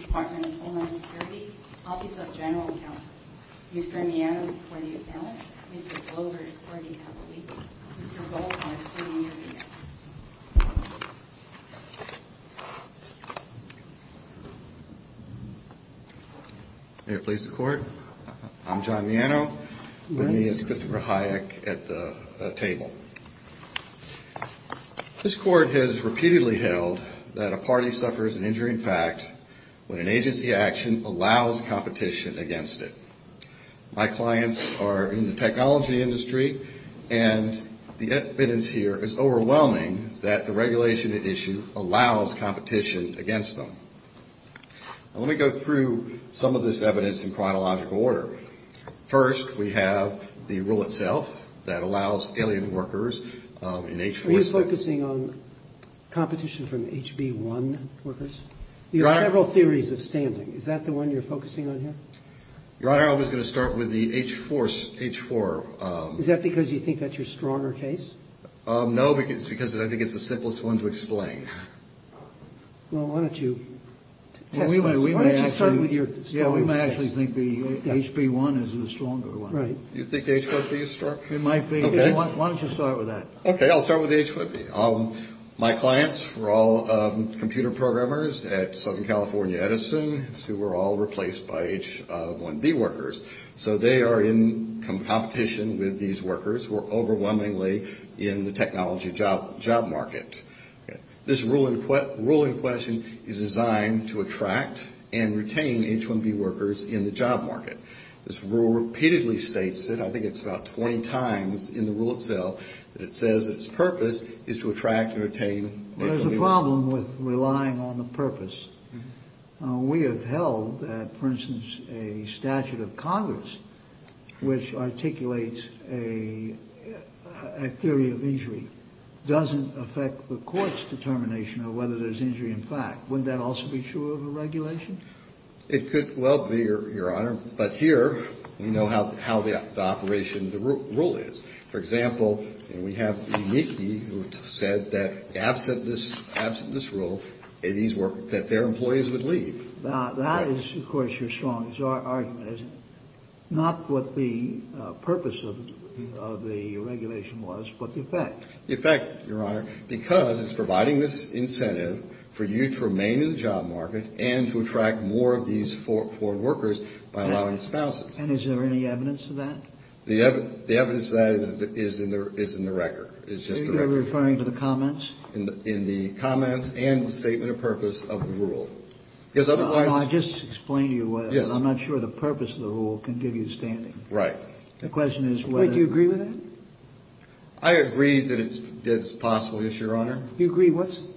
Department of Homeland Security, Office of General Counsel, Mr. Miano, before the appellant, Mr. Glover, before the appellant, Mr. Goldfarb, before the interviewer. May it please the court. I'm John Miano. With me is Christopher Hayek at the table. This court has repeatedly held that a party suffers an injury in fact when an agency action allows competition against it. My clients are in the technology industry, and the evidence here is overwhelming that the regulation at issue allows competition against them. Let me go through some of this evidence in chronological order. First, we have the rule itself that allows alien workers in H-4... Are you focusing on competition from HB-1 workers? You have several theories of standing. Is that the one you're focusing on here? Your Honor, I was going to start with the H-4. Is that because you think that's your stronger case? No, because I think it's the simplest one to explain. Well, why don't you test this? Why don't you start with your strongest case? Yeah, we might actually think the HB-1 is the stronger one. Right. Do you think the H-4B is stronger? It might be. Okay. Why don't you start with that? Okay, I'll start with the H-4B. My clients were all computer programmers at Southern California Edison who were all replaced by H-1B workers. So they are in competition with these workers who are overwhelmingly in the technology job market. This rule in question is designed to attract and retain H-1B workers in the job market. This rule repeatedly states it. I think it's about 20 times in the rule itself that it says its purpose is to attract and retain H-1B workers. There's a problem with relying on the purpose. We have held that, for instance, a statute of Congress which articulates a theory of injury doesn't affect the court's determination of whether there's injury in fact. Wouldn't that also be true of a regulation? It could well be, Your Honor, but here we know how the operation, the rule is. For example, we have the NICI who said that absent this rule, that their employees would leave. That is, of course, your strongest argument, isn't it? Not what the purpose of the regulation was, but the effect. The effect, Your Honor, because it's providing this incentive for you to remain in the job market and to attract more of these forward workers by allowing spouses. And is there any evidence of that? The evidence of that is in the record. You're referring to the comments? In the comments and the statement of purpose of the rule. I'll just explain to you, I'm not sure the purpose of the rule can give you standing. Right. The question is whether... Wait, do you agree with that? I agree that it's possible, yes, Your Honor. You agree with what?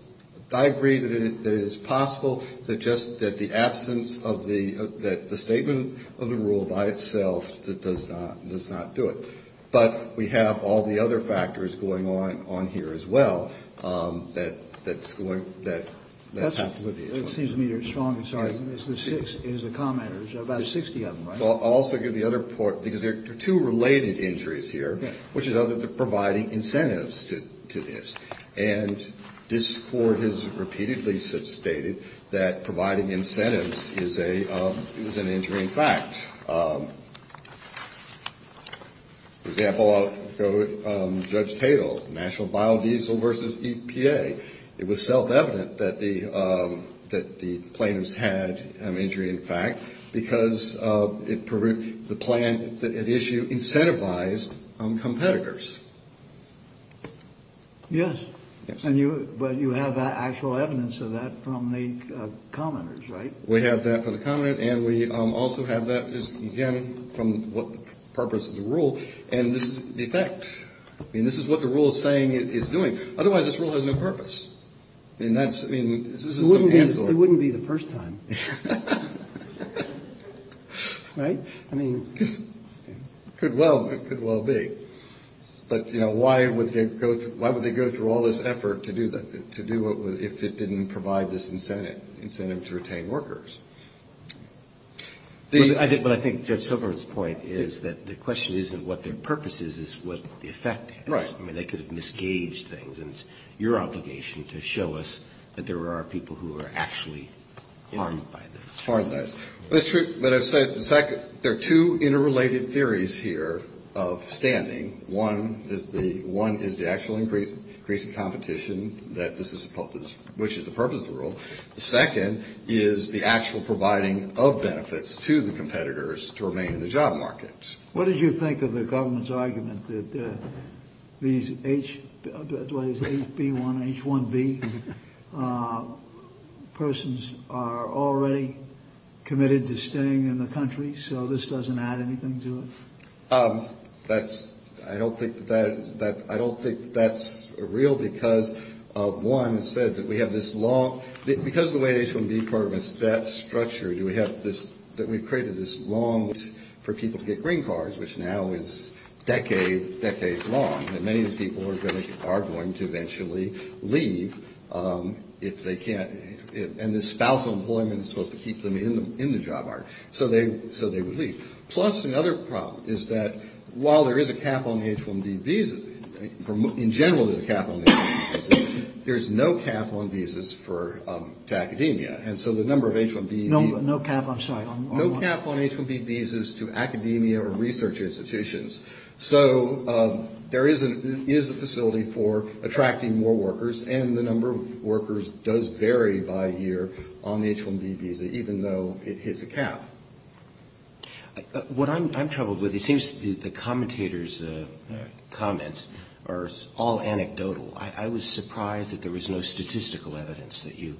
I agree that it is possible that just the absence of the statement of the rule by itself does not do it. But we have all the other factors going on here as well that's going, that's happening with each one. Excuse me, your strongest argument is the commenters, about 60 of them, right? I'll also give the other part, because there are two related injuries here, which is providing incentives to this. And this Court has repeatedly stated that providing incentives is an injury in fact. For example, Judge Tatel, National Biodiesel versus EPA, it was self-evident that the plaintiffs had an injury in fact, because the plan at issue incentivized competitors. Yes. But you have actual evidence of that from the commenters, right? We have that for the comment, and we also have that, again, from what purpose of the rule. And this is the effect. I mean, this is what the rule is saying it's doing. Otherwise, this rule has no purpose. And that's, I mean... It wouldn't be the first time. Right? I mean, it could well be. But, you know, why would they go through all this effort to do it if it didn't provide this incentive to retain workers? But I think Judge Silverman's point is that the question isn't what their purpose is, it's what the effect is. Right. I mean, they could have misgaged things, and it's your obligation to show us that there are people who are actually harmed by this. Harmed by this. But it's true. But I've said there are two interrelated theories here of standing. One is the actual increase in competition, which is the purpose of the rule. The second is the actual providing of benefits to the competitors to remain in the job market. What did you think of the government's argument that these HB1, H1B persons are already committed to staying in the country. So this doesn't add anything to it. That's I don't think that that I don't think that's real because of one said that we have this law because the way H1B program is that structure. Do we have this that we've created this long for people to get green cards, which now is decades, decades long. And many of the people are going to are going to eventually leave if they can't. And this spousal employment is supposed to keep them in the job market. So they so they would leave. Plus, another problem is that while there is a cap on the H1B visa, in general, there's a cap on the H1B visa, there's no cap on visas for academia. And so the number of H1B. No, no cap. I'm sorry. No cap on H1B visas to academia or research institutions. So there is a is a facility for attracting more workers. And the number of workers does vary by year on the H1B visa, even though it hits a cap. What I'm troubled with, it seems the commentators comments are all anecdotal. I was surprised that there was no statistical evidence that you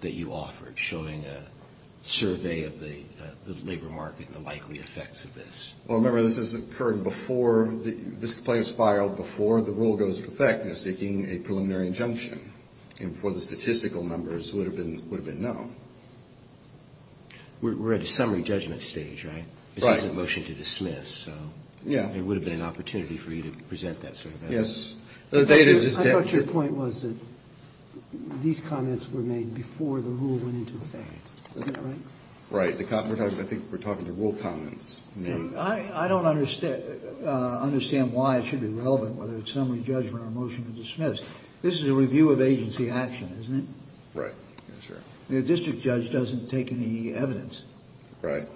that you offered showing a survey of the labor market and the likely effects of this. Well, remember, this is occurring before this complaint is filed before the rule goes into effect. You're seeking a preliminary injunction for the statistical numbers would have been would have been known. We're at a summary judgment stage, right? Right. Motion to dismiss. So, yeah, it would have been an opportunity for you to present that. Yes. I thought your point was that these comments were made before the rule went into effect. Right. Right. I think we're talking to rule comments. I don't understand why it should be relevant, whether it's summary judgment or motion to dismiss. This is a review of agency action, isn't it? Right. Sure. The district judge doesn't take any evidence. Right.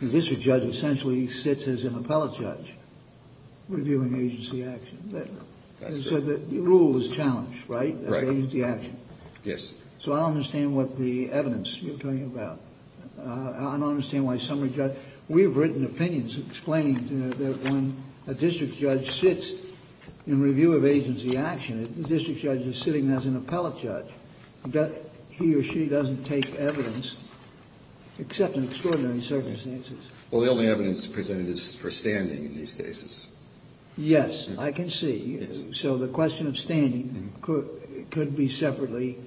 The district judge essentially sits as an appellate judge reviewing agency action. So the rule is challenged, right? Right. Agency action. Yes. So I don't understand what the evidence you're talking about. I don't understand why summary judgment. We've written opinions explaining that when a district judge sits in review of agency action, the district judge is sitting as an appellate judge. He or she doesn't take evidence, except in extraordinary circumstances. Well, the only evidence presented is for standing in these cases. Yes, I can see. So the question of standing could be separately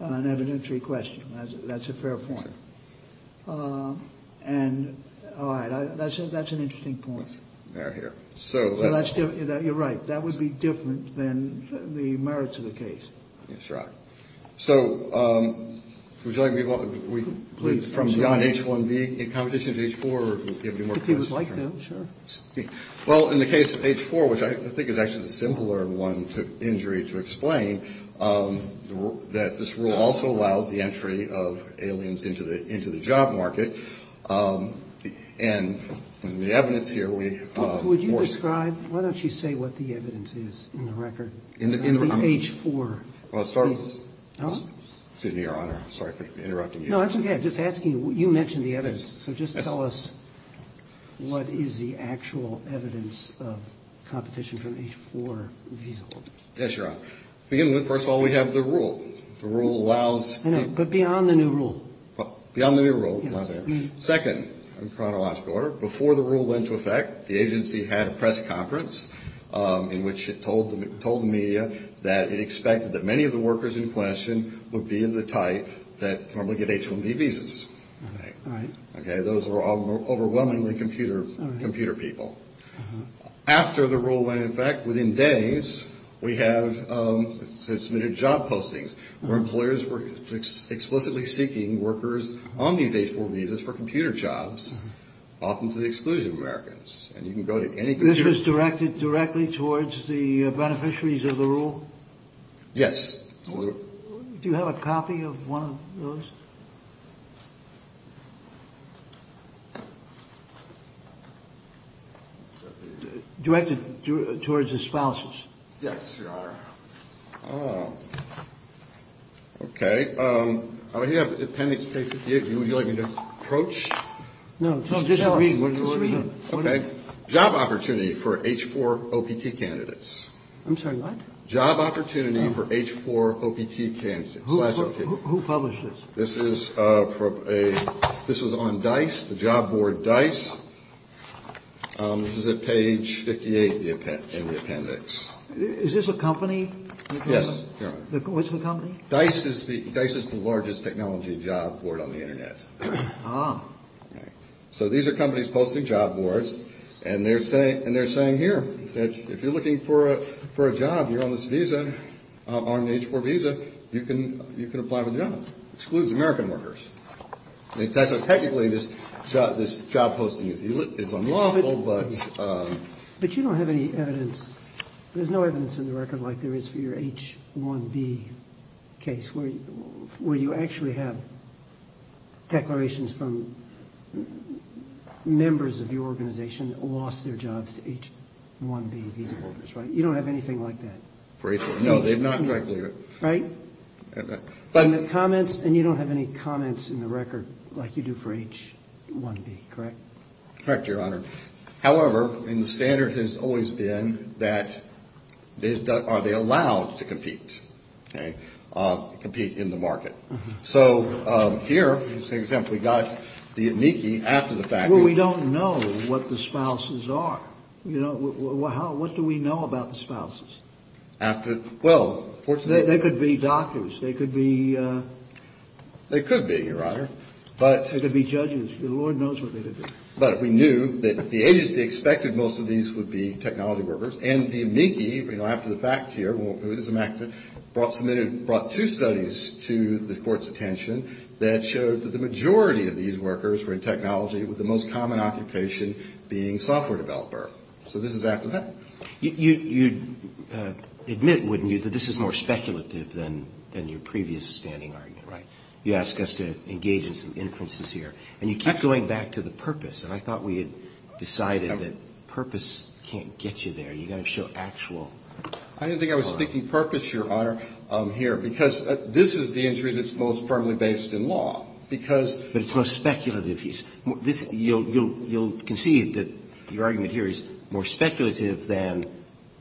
an evidentiary question. That's a fair point. And that's an interesting point. You're right. That would be different than the merits of the case. That's right. So would you like me to go from beyond H-1B in competition to H-4, or do you have any more questions? If you would like to, sure. Well, in the case of H-4, which I think is actually a simpler one to injury to explain, that this rule also allows the entry of aliens into the job market. And the evidence here, we of course. Would you describe? Why don't you say what the evidence is in the record? In the record. In H-4. Well, it starts with. Huh? Excuse me, Your Honor. I'm sorry for interrupting you. No, that's okay. I'm just asking you. You mentioned the evidence. So just tell us what is the actual evidence of competition from H-4 feasible? Yes, Your Honor. First of all, we have the rule. The rule allows. I know. But beyond the new rule. Beyond the new rule. Second, in chronological order, before the rule went into effect, the agency had a press conference in which it told the media that it expected that many of the workers in question would be of the type that normally get H-1B visas. All right. All right. Okay. Those were all overwhelmingly computer people. After the rule went into effect, within days, we have submitted job postings where employers were explicitly seeking workers on these H-4 visas. For computer jobs. Often to the exclusion of Americans. And you can go to any computer. This was directed directly towards the beneficiaries of the rule? Yes. Do you have a copy of one of those? Directed towards the spouses. Yes, Your Honor. Oh. Okay. I have appendix page 58. Would you like me to approach? No. Just read. Just read. Okay. Job opportunity for H-4 OPT candidates. I'm sorry, what? Job opportunity for H-4 OPT candidates. Who published this? This is from a – this was on DICE, the job board DICE. This is at page 58 in the appendix. Is this a company? Yes, Your Honor. What's the company? DICE is the largest technology job board on the Internet. Ah. So these are companies posting job boards, and they're saying here that if you're looking for a job, you're on this visa, on an H-4 visa, you can apply for the job. Excludes American workers. So technically this job posting is unlawful, but – But you don't have any evidence – there's no evidence in the record like there is for your H-1B case, where you actually have declarations from members of your organization that lost their jobs to H-1B visa holders, right? You don't have anything like that. No, they've not – Right? But – And the comments – and you don't have any comments in the record like you do for H-1B, correct? Correct, Your Honor. However, and the standard has always been that – are they allowed to compete? Okay? Compete in the market. So here is an example. We got the amici after the fact. Well, we don't know what the spouses are. You know, how – what do we know about the spouses? After – well, fortunately – They could be doctors. They could be – They could be, Your Honor. But – They could be judges. The Lord knows what they could be. But we knew that the agency expected most of these would be technology workers. And the amici, you know, after the fact here, brought two studies to the Court's attention that showed that the majority of these workers were in technology with the most common occupation being software developer. So this is after the fact. You'd admit, wouldn't you, that this is more speculative than your previous standing argument, right? You ask us to engage in some inferences here. And you kept going back to the purpose. And I thought we had decided that purpose can't get you there. You've got to show actual – I didn't think I was speaking purpose, Your Honor, here. Because this is the injury that's most firmly based in law. Because – But it's most speculative. You'll concede that your argument here is more speculative than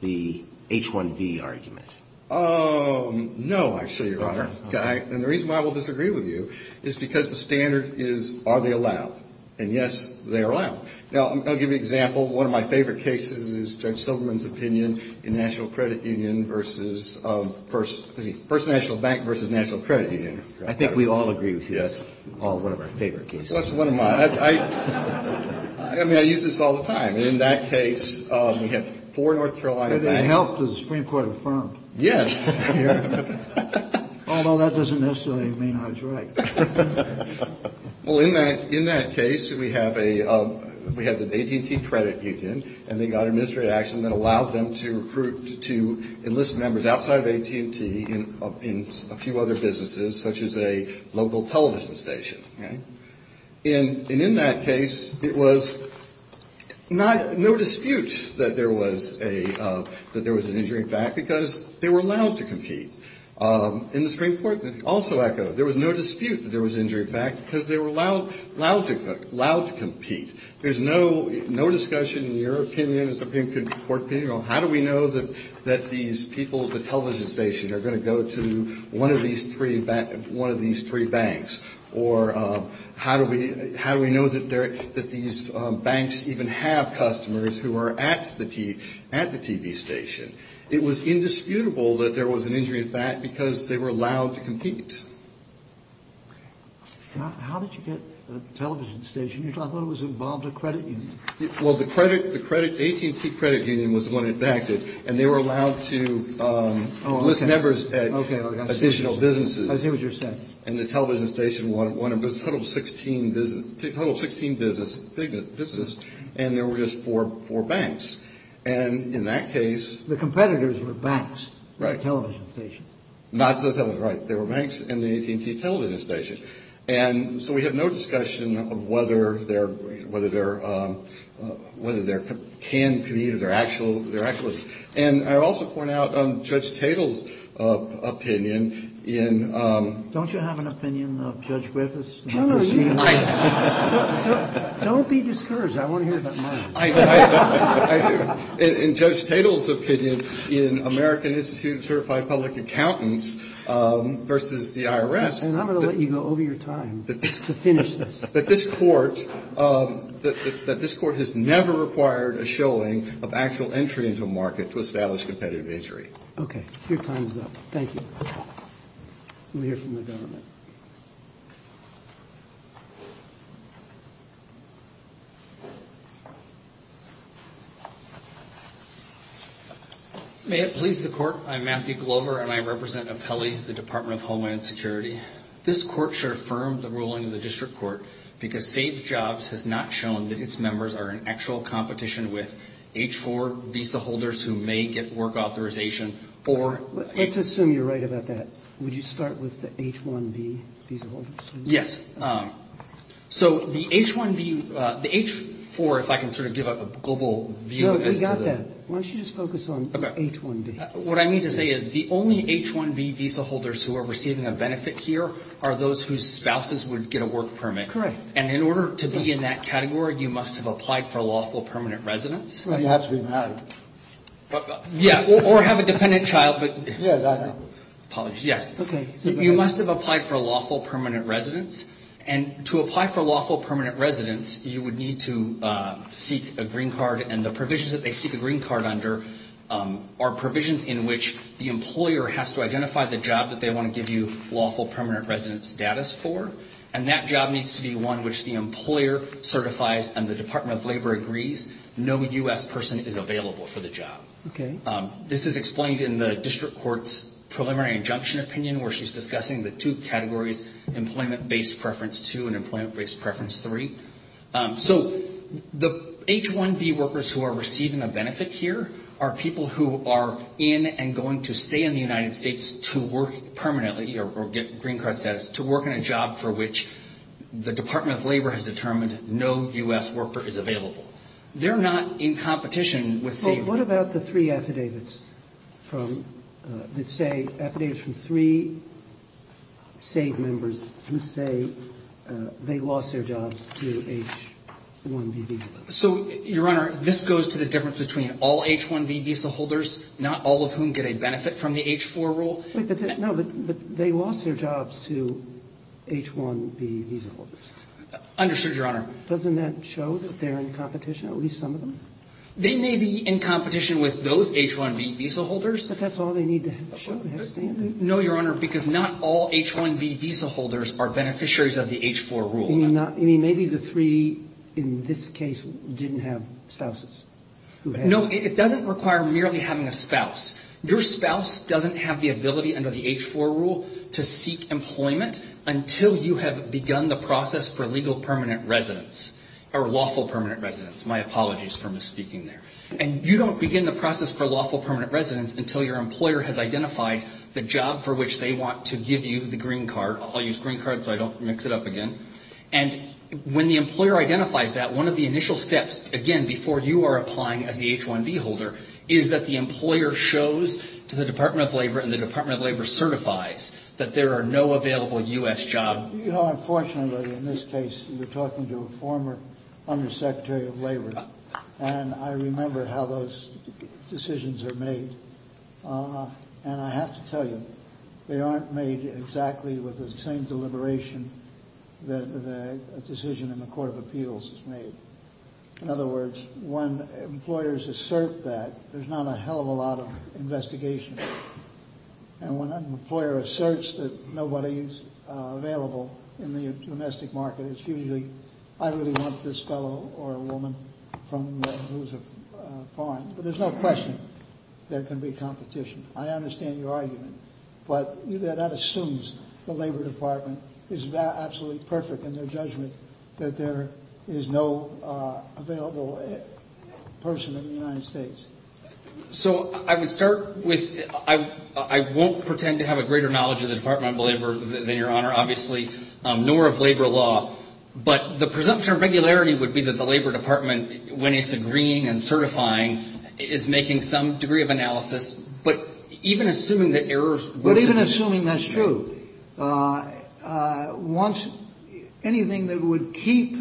the H-1B argument. No, I assure you, Your Honor. And the reason why I will disagree with you is because the standard is, are they allowed? And, yes, they are allowed. Now, I'll give you an example. One of my favorite cases is Judge Silverman's opinion in National Credit Union versus – First National Bank versus National Credit Union. I think we all agree with you. That's one of our favorite cases. That's one of my – I mean, I use this all the time. In that case, we have four North Carolina banks – They helped the Supreme Court affirm. Yes. Although that doesn't necessarily mean I was right. Well, in that case, we have an AT&T credit union, and they got administrative action that allowed them to enlist members outside of AT&T in a few other businesses, such as a local television station. And in that case, it was no dispute that there was an injury in fact, because they were allowed to compete. And the Supreme Court also echoed. There was no dispute that there was injury in fact, because they were allowed to compete. There's no discussion in your opinion, the Supreme Court opinion, on how do we know that these people at the television station are going to go to one of these three banks, or how do we know that these banks even have customers who are at the TV station. It was indisputable that there was an injury in fact, because they were allowed to compete. How did you get a television station? I thought it was involved in a credit union. Well, the AT&T credit union was the one that backed it, and they were allowed to enlist members at additional businesses. I see what you're saying. And the television station was one of a total of 16 businesses, and there were just four banks. And in that case... The competitors were banks. Right. Not the television station. Right. They were banks and the AT&T television station. And so we have no discussion of whether there can be or there actually was. And I also point out Judge Tatel's opinion in... Don't you have an opinion of Judge Griffiths? No, no, you might. Don't be discouraged. I want to hear about mine. In Judge Tatel's opinion, in American Institute of Certified Public Accountants versus the IRS... And I'm going to let you go over your time to finish this. ...that this Court has never required a showing of actual entry into a market to establish competitive injury. Okay. Your time is up. Thank you. We'll hear from the government. May it please the Court. I'm Matthew Glover, and I represent Apelli, the Department of Homeland Security. This Court should affirm the ruling of the District Court because SafeJobs has not shown that its members are in actual competition with H-4 visa holders who may get work authorization or... Let's assume you're right about that. Would you start with the H-1B visa holders? Yes. So the H-1B, the H-4, if I can sort of give a global view as to the... No, we got that. Why don't you just focus on H-1B? What I mean to say is the only H-1B visa holders who are receiving a benefit here are those whose spouses would get a work permit. Correct. And in order to be in that category, you must have applied for lawful permanent residence. You have to be married. Yeah, or have a dependent child, but... Yes, I know. Apologies, yes. Okay. You must have applied for lawful permanent residence, and to apply for lawful permanent residence, you would need to seek a green card, and the provisions that they seek a green card under are provisions in which the employer has to identify the job that they want to give you lawful permanent residence status for, and that job needs to be one which the employer certifies and the Department of Labor agrees no U.S. person is available for the job. Okay. This is explained in the district court's preliminary injunction opinion where she's discussing the two categories, employment-based preference two and employment-based preference three. So the H-1B workers who are receiving a benefit here are people who are in and going to stay in the United States to work permanently or get green card status, to work in a job for which the Department of Labor has determined no U.S. worker is available. They're not in competition with... What about the three affidavits from, that say affidavits from three SAVE members who say they lost their jobs to H-1B visa holders? So, Your Honor, this goes to the difference between all H-1B visa holders, not all of whom get a benefit from the H-4 rule. No, but they lost their jobs to H-1B visa holders. Understood, Your Honor. Doesn't that show that they're in competition, at least some of them? They may be in competition with those H-1B visa holders. But that's all they need to show. No, Your Honor, because not all H-1B visa holders are beneficiaries of the H-4 rule. You mean maybe the three in this case didn't have spouses? No, it doesn't require merely having a spouse. Your spouse doesn't have the ability under the H-4 rule to seek employment until you have begun the process for legal permanent residence or lawful permanent residence. My apologies for misspeaking there. And you don't begin the process for lawful permanent residence until your employer has identified the job for which they want to give you the green card. I'll use green card so I don't mix it up again. And when the employer identifies that, one of the initial steps, again, before you are applying as the H-1B holder, is that the employer shows to the Department of Labor and the Department of Labor certifies that there are no available U.S. jobs. You know, unfortunately, in this case, you're talking to a former Undersecretary of Labor. And I remember how those decisions are made. And I have to tell you, they aren't made exactly with the same deliberation that a decision in the Court of Appeals is made. In other words, when employers assert that, there's not a hell of a lot of investigation. And when an employer asserts that nobody is available in the domestic market, it's usually, I really want this fellow or a woman from who's a foreign. But there's no question there can be competition. I understand your argument. But that assumes the Labor Department is absolutely perfect in their judgment that there is no available person in the United States. So I would start with, I won't pretend to have a greater knowledge of the Department of Labor than your Honor, obviously, nor of labor law. But the presumption of regularity would be that the Labor Department, when it's agreeing and certifying, is making some degree of analysis. But even assuming that errors... But even assuming that's true. Anything that would keep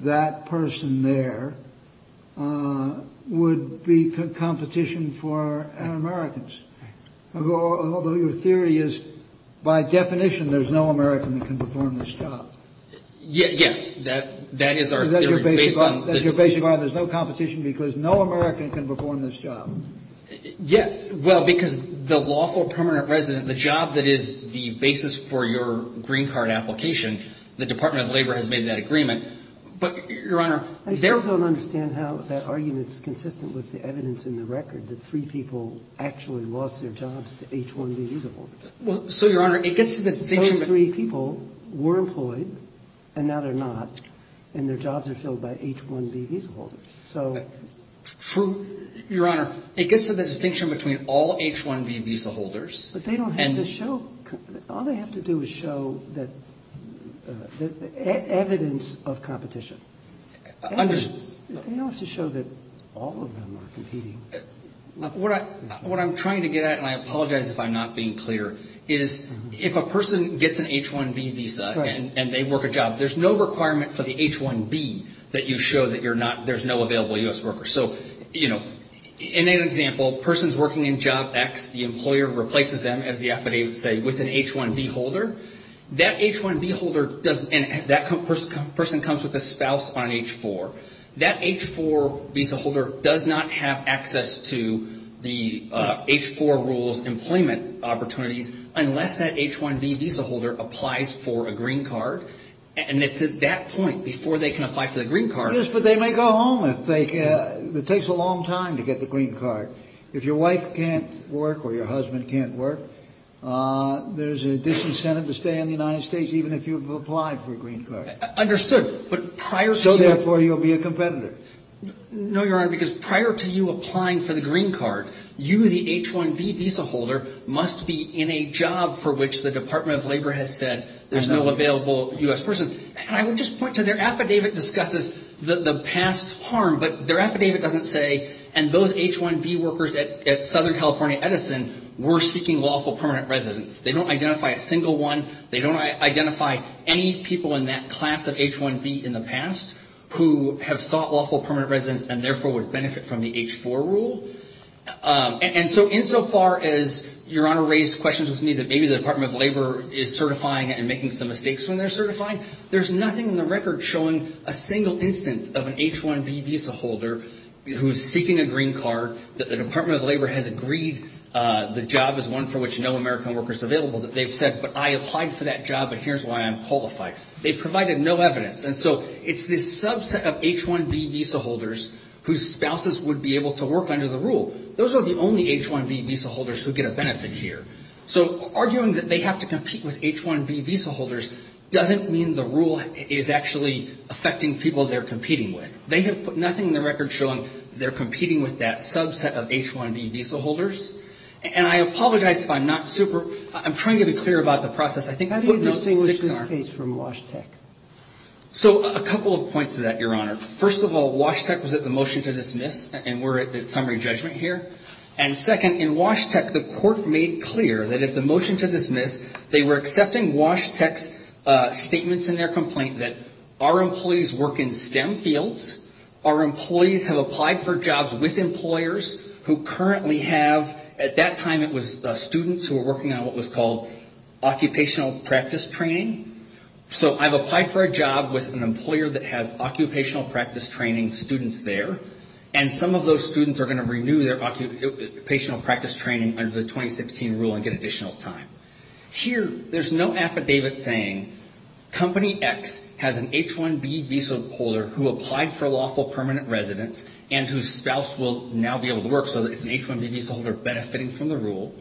that person there would be competition for Americans. Although your theory is, by definition, there's no American that can perform this job. Yes, that is our theory. That's your basic argument. There's no competition because no American can perform this job. Yes, well, because the lawful permanent resident, the job that is the basis for your green card application, the Department of Labor has made that agreement. But, your Honor... I still don't understand how that argument is consistent with the evidence in the record that three people actually lost their jobs to H-1B visa holders. So, your Honor, it gets to the... Those three people were employed, and now they're not, and their jobs are filled by H-1B visa holders. Your Honor, it gets to the distinction between all H-1B visa holders... But they don't have to show... All they have to do is show evidence of competition. They don't have to show that all of them are competing. What I'm trying to get at, and I apologize if I'm not being clear, is if a person gets an H-1B visa and they work a job, there's no requirement for the H-1B that you show that there's no available U.S. worker. So, in an example, a person's working in Job X. The employer replaces them, as the affidavit would say, with an H-1B holder. That H-1B holder doesn't... That person comes with a spouse on H-4. That H-4 visa holder does not have access to the H-4 rules employment opportunities unless that H-1B visa holder applies for a green card. And it's at that point, before they can apply for the green card... Yes, but they may go home if they... It takes a long time to get the green card. If your wife can't work or your husband can't work, there's a disincentive to stay in the United States even if you've applied for a green card. Understood, but prior to... So, therefore, you'll be a competitor. No, Your Honor, because prior to you applying for the green card, you, the H-1B visa holder, must be in a job for which the Department of Labor has said there's no available U.S. person. And I would just point to their affidavit discusses the past harm, but their affidavit doesn't say, and those H-1B workers at Southern California Edison were seeking lawful permanent residence. They don't identify a single one. They don't identify any people in that class of H-1B in the past who have sought lawful permanent residence and, therefore, would benefit from the H-4 rule. And so, insofar as Your Honor raised questions with me that maybe the Department of Labor is certifying and making some mistakes when they're certifying, there's nothing in the record showing a single instance of an H-1B visa holder who's seeking a green card, that the Department of Labor has agreed the job is one for which no American worker is available, that they've said, but I applied for that job and here's why I'm qualified. They provided no evidence. And so it's this subset of H-1B visa holders whose spouses would be able to work under the rule. Those are the only H-1B visa holders who get a benefit here. So arguing that they have to compete with H-1B visa holders doesn't mean the rule is actually affecting people they're competing with. They have put nothing in the record showing they're competing with that subset of H-1B visa holders. And I apologize if I'm not super – I'm trying to be clear about the process. I think footnotes 6 are. So a couple of points to that, Your Honor. First of all, Wash Tech was at the motion to dismiss, and we're at summary judgment here. And second, in Wash Tech, the court made clear that at the motion to dismiss, they were accepting Wash Tech's statements in their complaint that our employees work in STEM fields, our employees have applied for jobs with employers who currently have – at that time it was students who were working on what was called occupational practice training. So I've applied for a job with an employer that has occupational practice training students there, and some of those students are going to renew their occupational practice training under the 2016 rule and get additional time. Here, there's no affidavit saying, Company X has an H-1B visa holder who applied for lawful permanent residence and whose spouse will now be able to work, so it's an H-1B visa holder benefiting from the rule.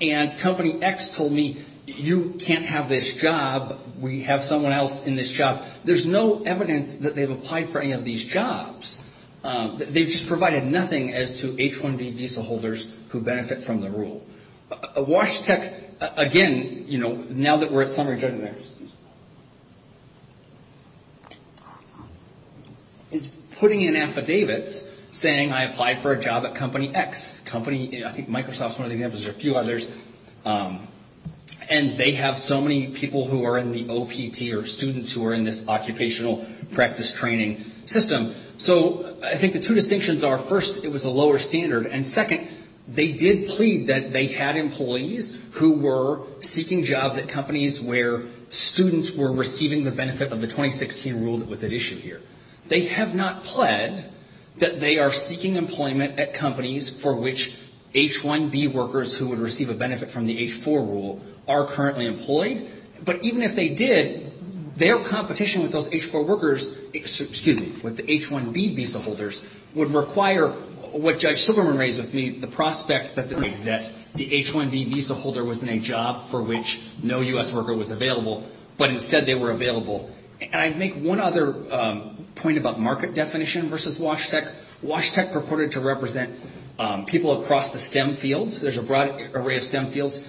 And Company X told me, You can't have this job. We have someone else in this job. There's no evidence that they've applied for any of these jobs. They just provided nothing as to H-1B visa holders who benefit from the rule. Wash Tech, again, you know, now that we're at summary judgment, is putting in affidavits saying, I applied for a job at Company X. Company – I think Microsoft's one of the examples. There are a few others. And they have so many people who are in the OPT or students who are in this occupational practice training system. So I think the two distinctions are, first, it was a lower standard, and second, they did plead that they had employees who were seeking jobs at companies where students were receiving the benefit of the 2016 rule that was at issue here. They have not pled that they are seeking employment at companies for which H-1B workers who would receive a benefit from the H-4 rule are currently employed. But even if they did, their competition with those H-4 workers – excuse me – with the H-1B visa holders would require what Judge Silverman raised with me, the prospect that the H-1B visa holder was in a job for which no U.S. worker was available, but instead they were available. And I'd make one other point about market definition versus WASHTEC. WASHTEC purported to represent people across the STEM fields. There's a broad array of STEM fields.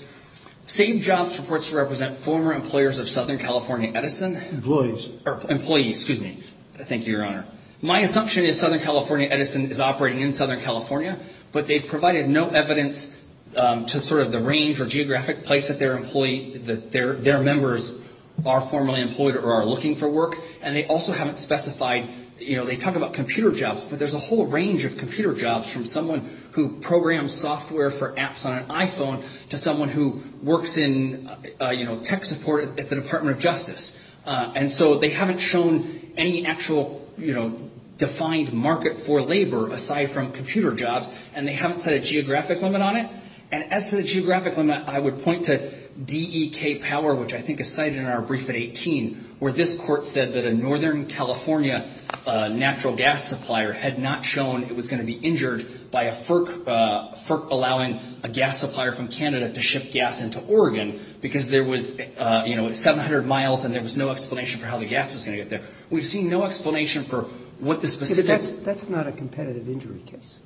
SAVEJOBS purports to represent former employers of Southern California Edison. Employees. Employees. Excuse me. Thank you, Your Honor. My assumption is Southern California Edison is operating in Southern California, but they've provided no evidence to sort of the range or geographic place that their employees – that their members are formerly employed or are looking for work. And they also haven't specified – you know, they talk about computer jobs, but there's a whole range of computer jobs from someone who programs software for apps on an iPhone to someone who works in, you know, tech support at the Department of Justice. And so they haven't shown any actual, you know, defined market for labor aside from computer jobs, and they haven't set a geographic limit on it. And as to the geographic limit, I would point to D.E.K. Power, which I think is cited in our brief at 18, where this court said that a Northern California natural gas supplier had not shown it was going to be injured by a FERC allowing a gas supplier from Canada to ship gas into Oregon because there was, you know, 700 miles and there was no explanation for how the gas was going to get there. We've seen no explanation for what the specifics – But that's not a competitive injury case,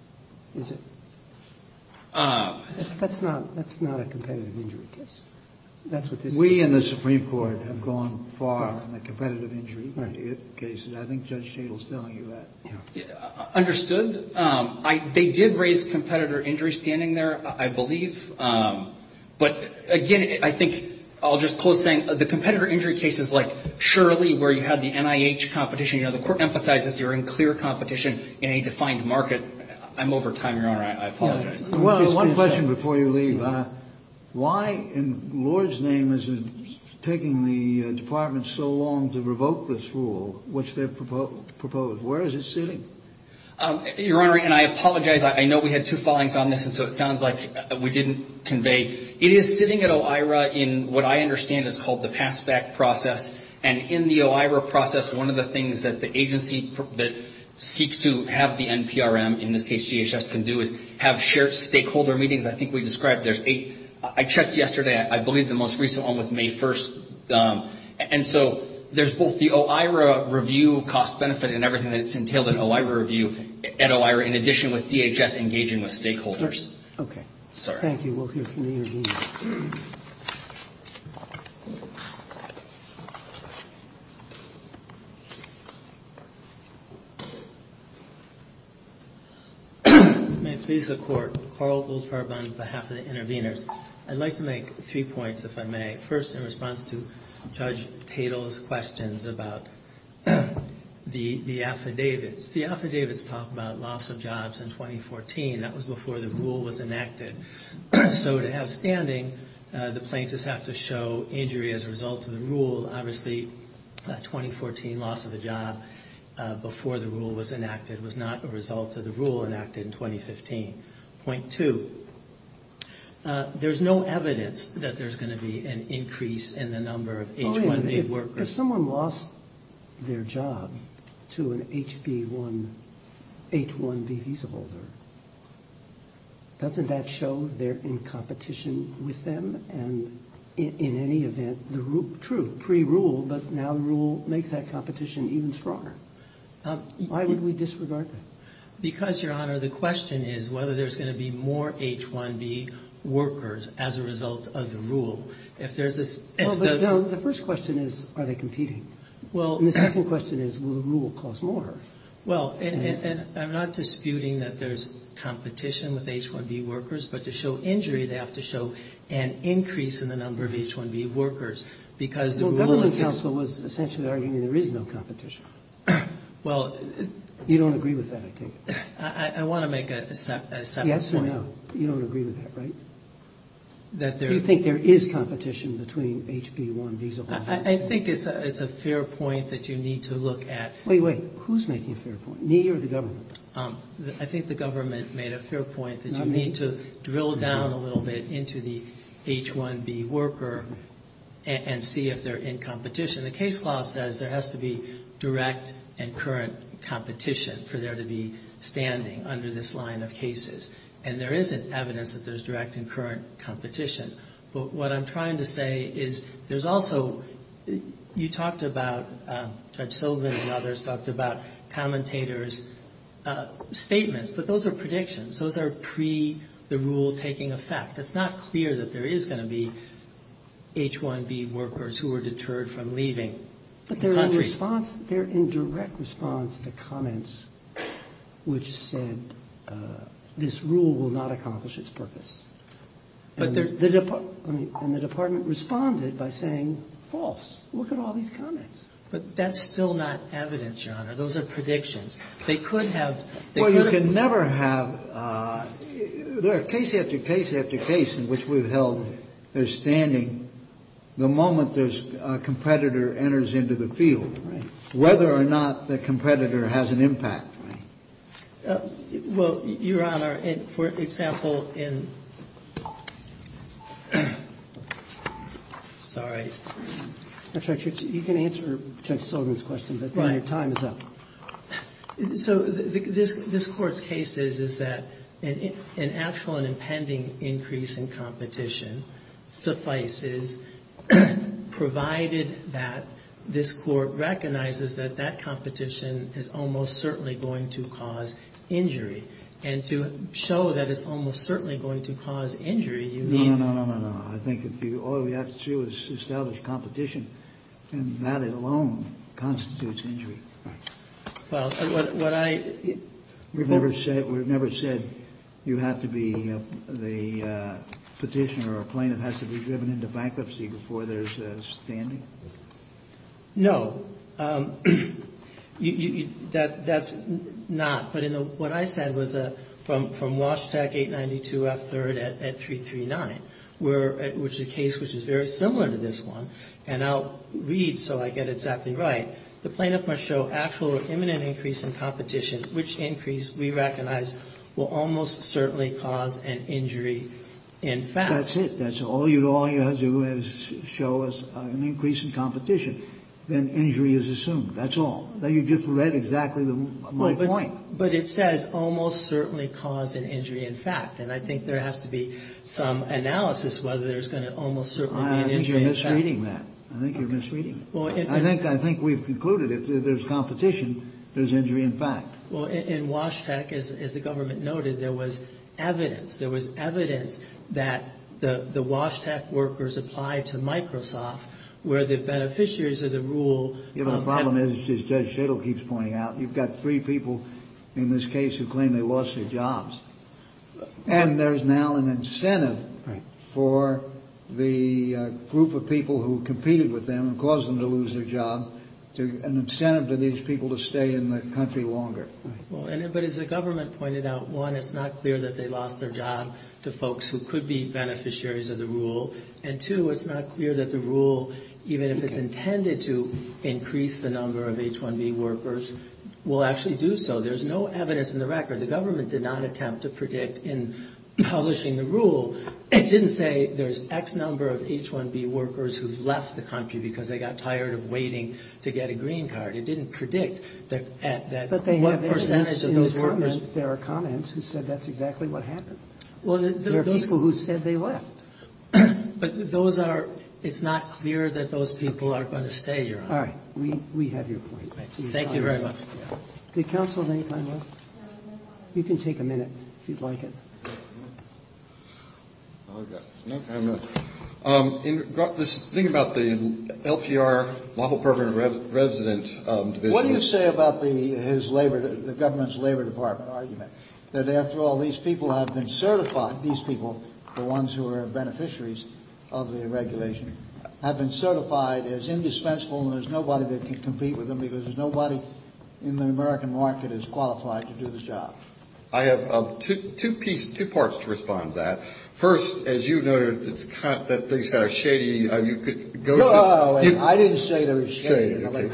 is it? That's not a competitive injury case. That's what this is. We in the Supreme Court have gone far in the competitive injury cases. I think Judge Chadle is telling you that. Understood. They did raise competitor injury standing there, I believe. But, again, I think I'll just close saying the competitor injury cases like Shirley, where you had the NIH competition, you know, the court emphasizes you're in clear competition in a defined market. I'm over time, Your Honor. I apologize. One question before you leave. Why in Lord's name is it taking the Department so long to revoke this rule, which they've proposed? Where is it sitting? Your Honor, and I apologize. I know we had two filings on this, and so it sounds like we didn't convey. It is sitting at OIRA in what I understand is called the pass-back process. And in the OIRA process, one of the things that the agency that seeks to have the NPRM, in this case GHS, can do is have shared stakeholder meetings. I think we described there's eight. I checked yesterday. I believe the most recent one was May 1st. And so there's both the OIRA review cost benefit and everything that's entailed in OIRA review and OIRA in addition with DHS engaging with stakeholders. Okay. Thank you. We'll hear from the intervener. May it please the Court, Carl Goldfarb on behalf of the interveners. I'd like to make three points, if I may. First, in response to Judge Tatel's questions about the affidavits. The affidavits talk about loss of jobs in 2014. That was before the rule was enacted. So to have standing, the plaintiffs have to show injury as a result of the rule. Obviously, 2014 loss of a job before the rule was enacted was not a result of the rule enacted in 2015. Point two, there's no evidence that there's going to be an increase in the number of H-1B workers. Oh, yeah. If someone lost their job to an H-1B visa holder, doesn't that show they're in competition with them? And in any event, true, pre-rule, but now the rule makes that competition even stronger. Why would we disregard that? Because, Your Honor, the question is whether there's going to be more H-1B workers as a result of the rule. If there's a – Well, but, no, the first question is, are they competing? Well – And the second question is, will the rule cause more? Well, and I'm not disputing that there's competition with H-1B workers, but to show injury, they have to show an increase in the number of H-1B workers because the rule is – Well, government counsel was essentially arguing there is no competition. Well – You don't agree with that, I take it? I want to make a separate point. Yes or no? You don't agree with that, right? That there – You think there is competition between H-B1 visa holders? I think it's a fair point that you need to look at. Wait, wait. Who's making a fair point, me or the government? I think the government made a fair point that you need to drill down a little bit into the H-1B worker and see if they're in competition. The case law says there has to be direct and current competition for there to be standing under this line of cases. And there isn't evidence that there's direct and current competition. But what I'm trying to say is there's also – you talked about – Judge Sullivan and others talked about commentators' statements. But those are predictions. Those are pre-the rule taking effect. It's not clear that there is going to be H-1B workers who are deterred from leaving the country. But they're in response – they're in direct response to comments which said this rule will not accomplish its purpose. But they're – And the department responded by saying false. Look at all these comments. But that's still not evidence, Your Honor. Those are predictions. They could have – they could have – They never have – there are case after case after case in which we've held there's standing the moment there's a competitor enters into the field. Right. Whether or not the competitor has an impact. Right. Well, Your Honor, for example, in – sorry. That's all right, Judge. You can answer Judge Sullivan's question, but then your time is up. Right. So this Court's case is that an actual and impending increase in competition suffices provided that this Court recognizes that that competition is almost certainly going to cause injury. And to show that it's almost certainly going to cause injury, you mean – No, no, no, no, no, no. I think if you – all we have to do is establish competition, and that alone constitutes injury. Right. Well, what I – We've never said – we've never said you have to be the petitioner or a plaintiff has to be driven into bankruptcy before there's standing? No. That's not. But in the – what I said was from Washtec 892F3 at 339, which is a case which is very similar to this one, and I'll read so I get exactly right. The plaintiff must show actual or imminent increase in competition, which increase we recognize will almost certainly cause an injury in fact. That's it. That's all you – all you have to do is show us an increase in competition. Then injury is assumed. That's all. You just read exactly my point. But it says almost certainly cause an injury in fact. And I think there has to be some analysis whether there's going to almost certainly be an injury in fact. I think you're misreading that. I think you're misreading it. I think we've concluded if there's competition, there's injury in fact. Well, in Washtec, as the government noted, there was evidence. There was evidence that the Washtec workers applied to Microsoft where the beneficiaries of the rule – You know, the problem is, as Judge Shadle keeps pointing out, you've got three people in this case who claim they lost their jobs. And there's now an incentive for the group of people who competed with them and caused them to lose their job, an incentive to these people to stay in the country longer. But as the government pointed out, one, it's not clear that they lost their job to folks who could be beneficiaries of the rule. And two, it's not clear that the rule, even if it's intended to increase the number of H-1B workers, will actually do so. There's no evidence in the record. The government did not attempt to predict in publishing the rule. It didn't say there's X number of H-1B workers who left the country because they got tired of waiting to get a green card. It didn't predict that what percentage of those workers – But they have evidence in the comments. There are comments who said that's exactly what happened. Well, the – There are people who said they left. But those are – it's not clear that those people are going to stay here. All right. We have your point. Thank you very much. Did counsel have any time left? You can take a minute, if you'd like it. Okay. I have a minute. This thing about the LPR, Lawful Permanent Resident Division. What do you say about his Labor – the government's Labor Department argument? That after all, these people have been certified, these people, the ones who are beneficiaries of the regulation, have been certified as indispensable and there's nobody that can compete with them because there's nobody in the American market as qualified to do the job. I have two parts to respond to that. First, as you noted, that things are kind of shady. You could go to – No, no, no. I didn't say they were shady.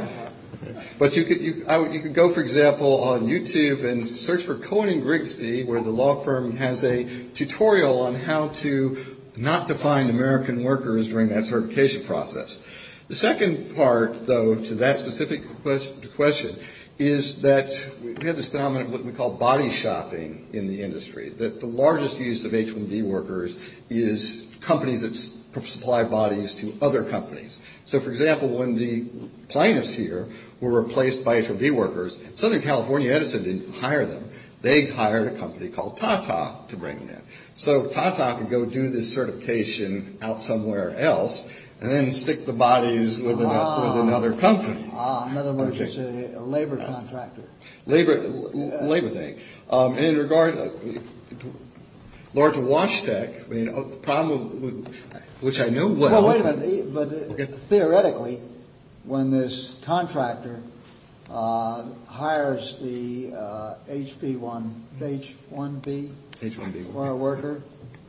But you could go, for example, on YouTube and search for Cohen and Grigsby, where the law firm has a tutorial on how to not define American workers during that certification process. The second part, though, to that specific question is that we have this phenomenon of what we call body shopping in the industry. The largest use of H-1B workers is companies that supply bodies to other companies. So, for example, when the plaintiffs here were replaced by H-1B workers, Southern California Edison didn't hire them. They hired a company called Tata to bring them in. So Tata could go do this certification out somewhere else and then stick the bodies with another company. Ah, in other words, it's a labor contractor. Labor thing. And in regard to Wash Tech, the problem with – which I know well – Theoretically, when this contractor hires the H-1B worker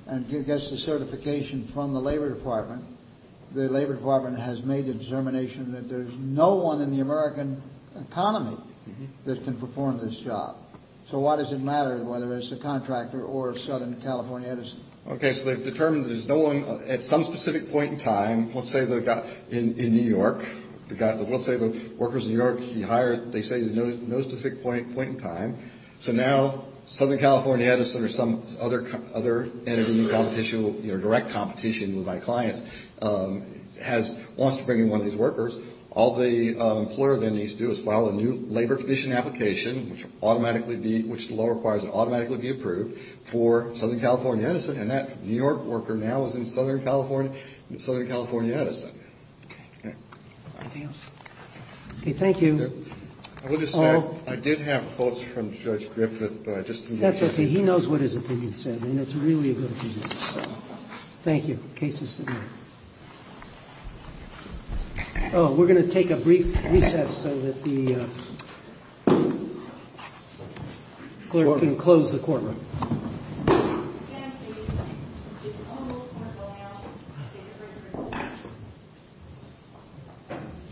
and gets the certification from the labor department, the labor department has made the determination that there's no one in the American economy that can perform this job. So why does it matter whether it's a contractor or Southern California Edison? Okay, so they've determined there's no one at some specific point in time. Let's say they've got – in New York. Let's say the worker's in New York. He hires – they say there's no specific point in time. So now Southern California Edison or some other entity in competition, you know, direct competition with my clients, wants to bring in one of these workers. All the employer then needs to do is file a new labor condition application, which will automatically be – which the law requires will automatically be approved for Southern California Edison. And that New York worker now is in Southern California – Southern California Edison. Okay. Anything else? Okay, thank you. I would have said I did have quotes from Judge Griffith, but I just didn't get a chance. That's okay. He knows what his opinion said, and it's really a good opinion. Thank you. Case is submitted. Oh, we're going to take a brief recess so that the clerk can close the courtroom.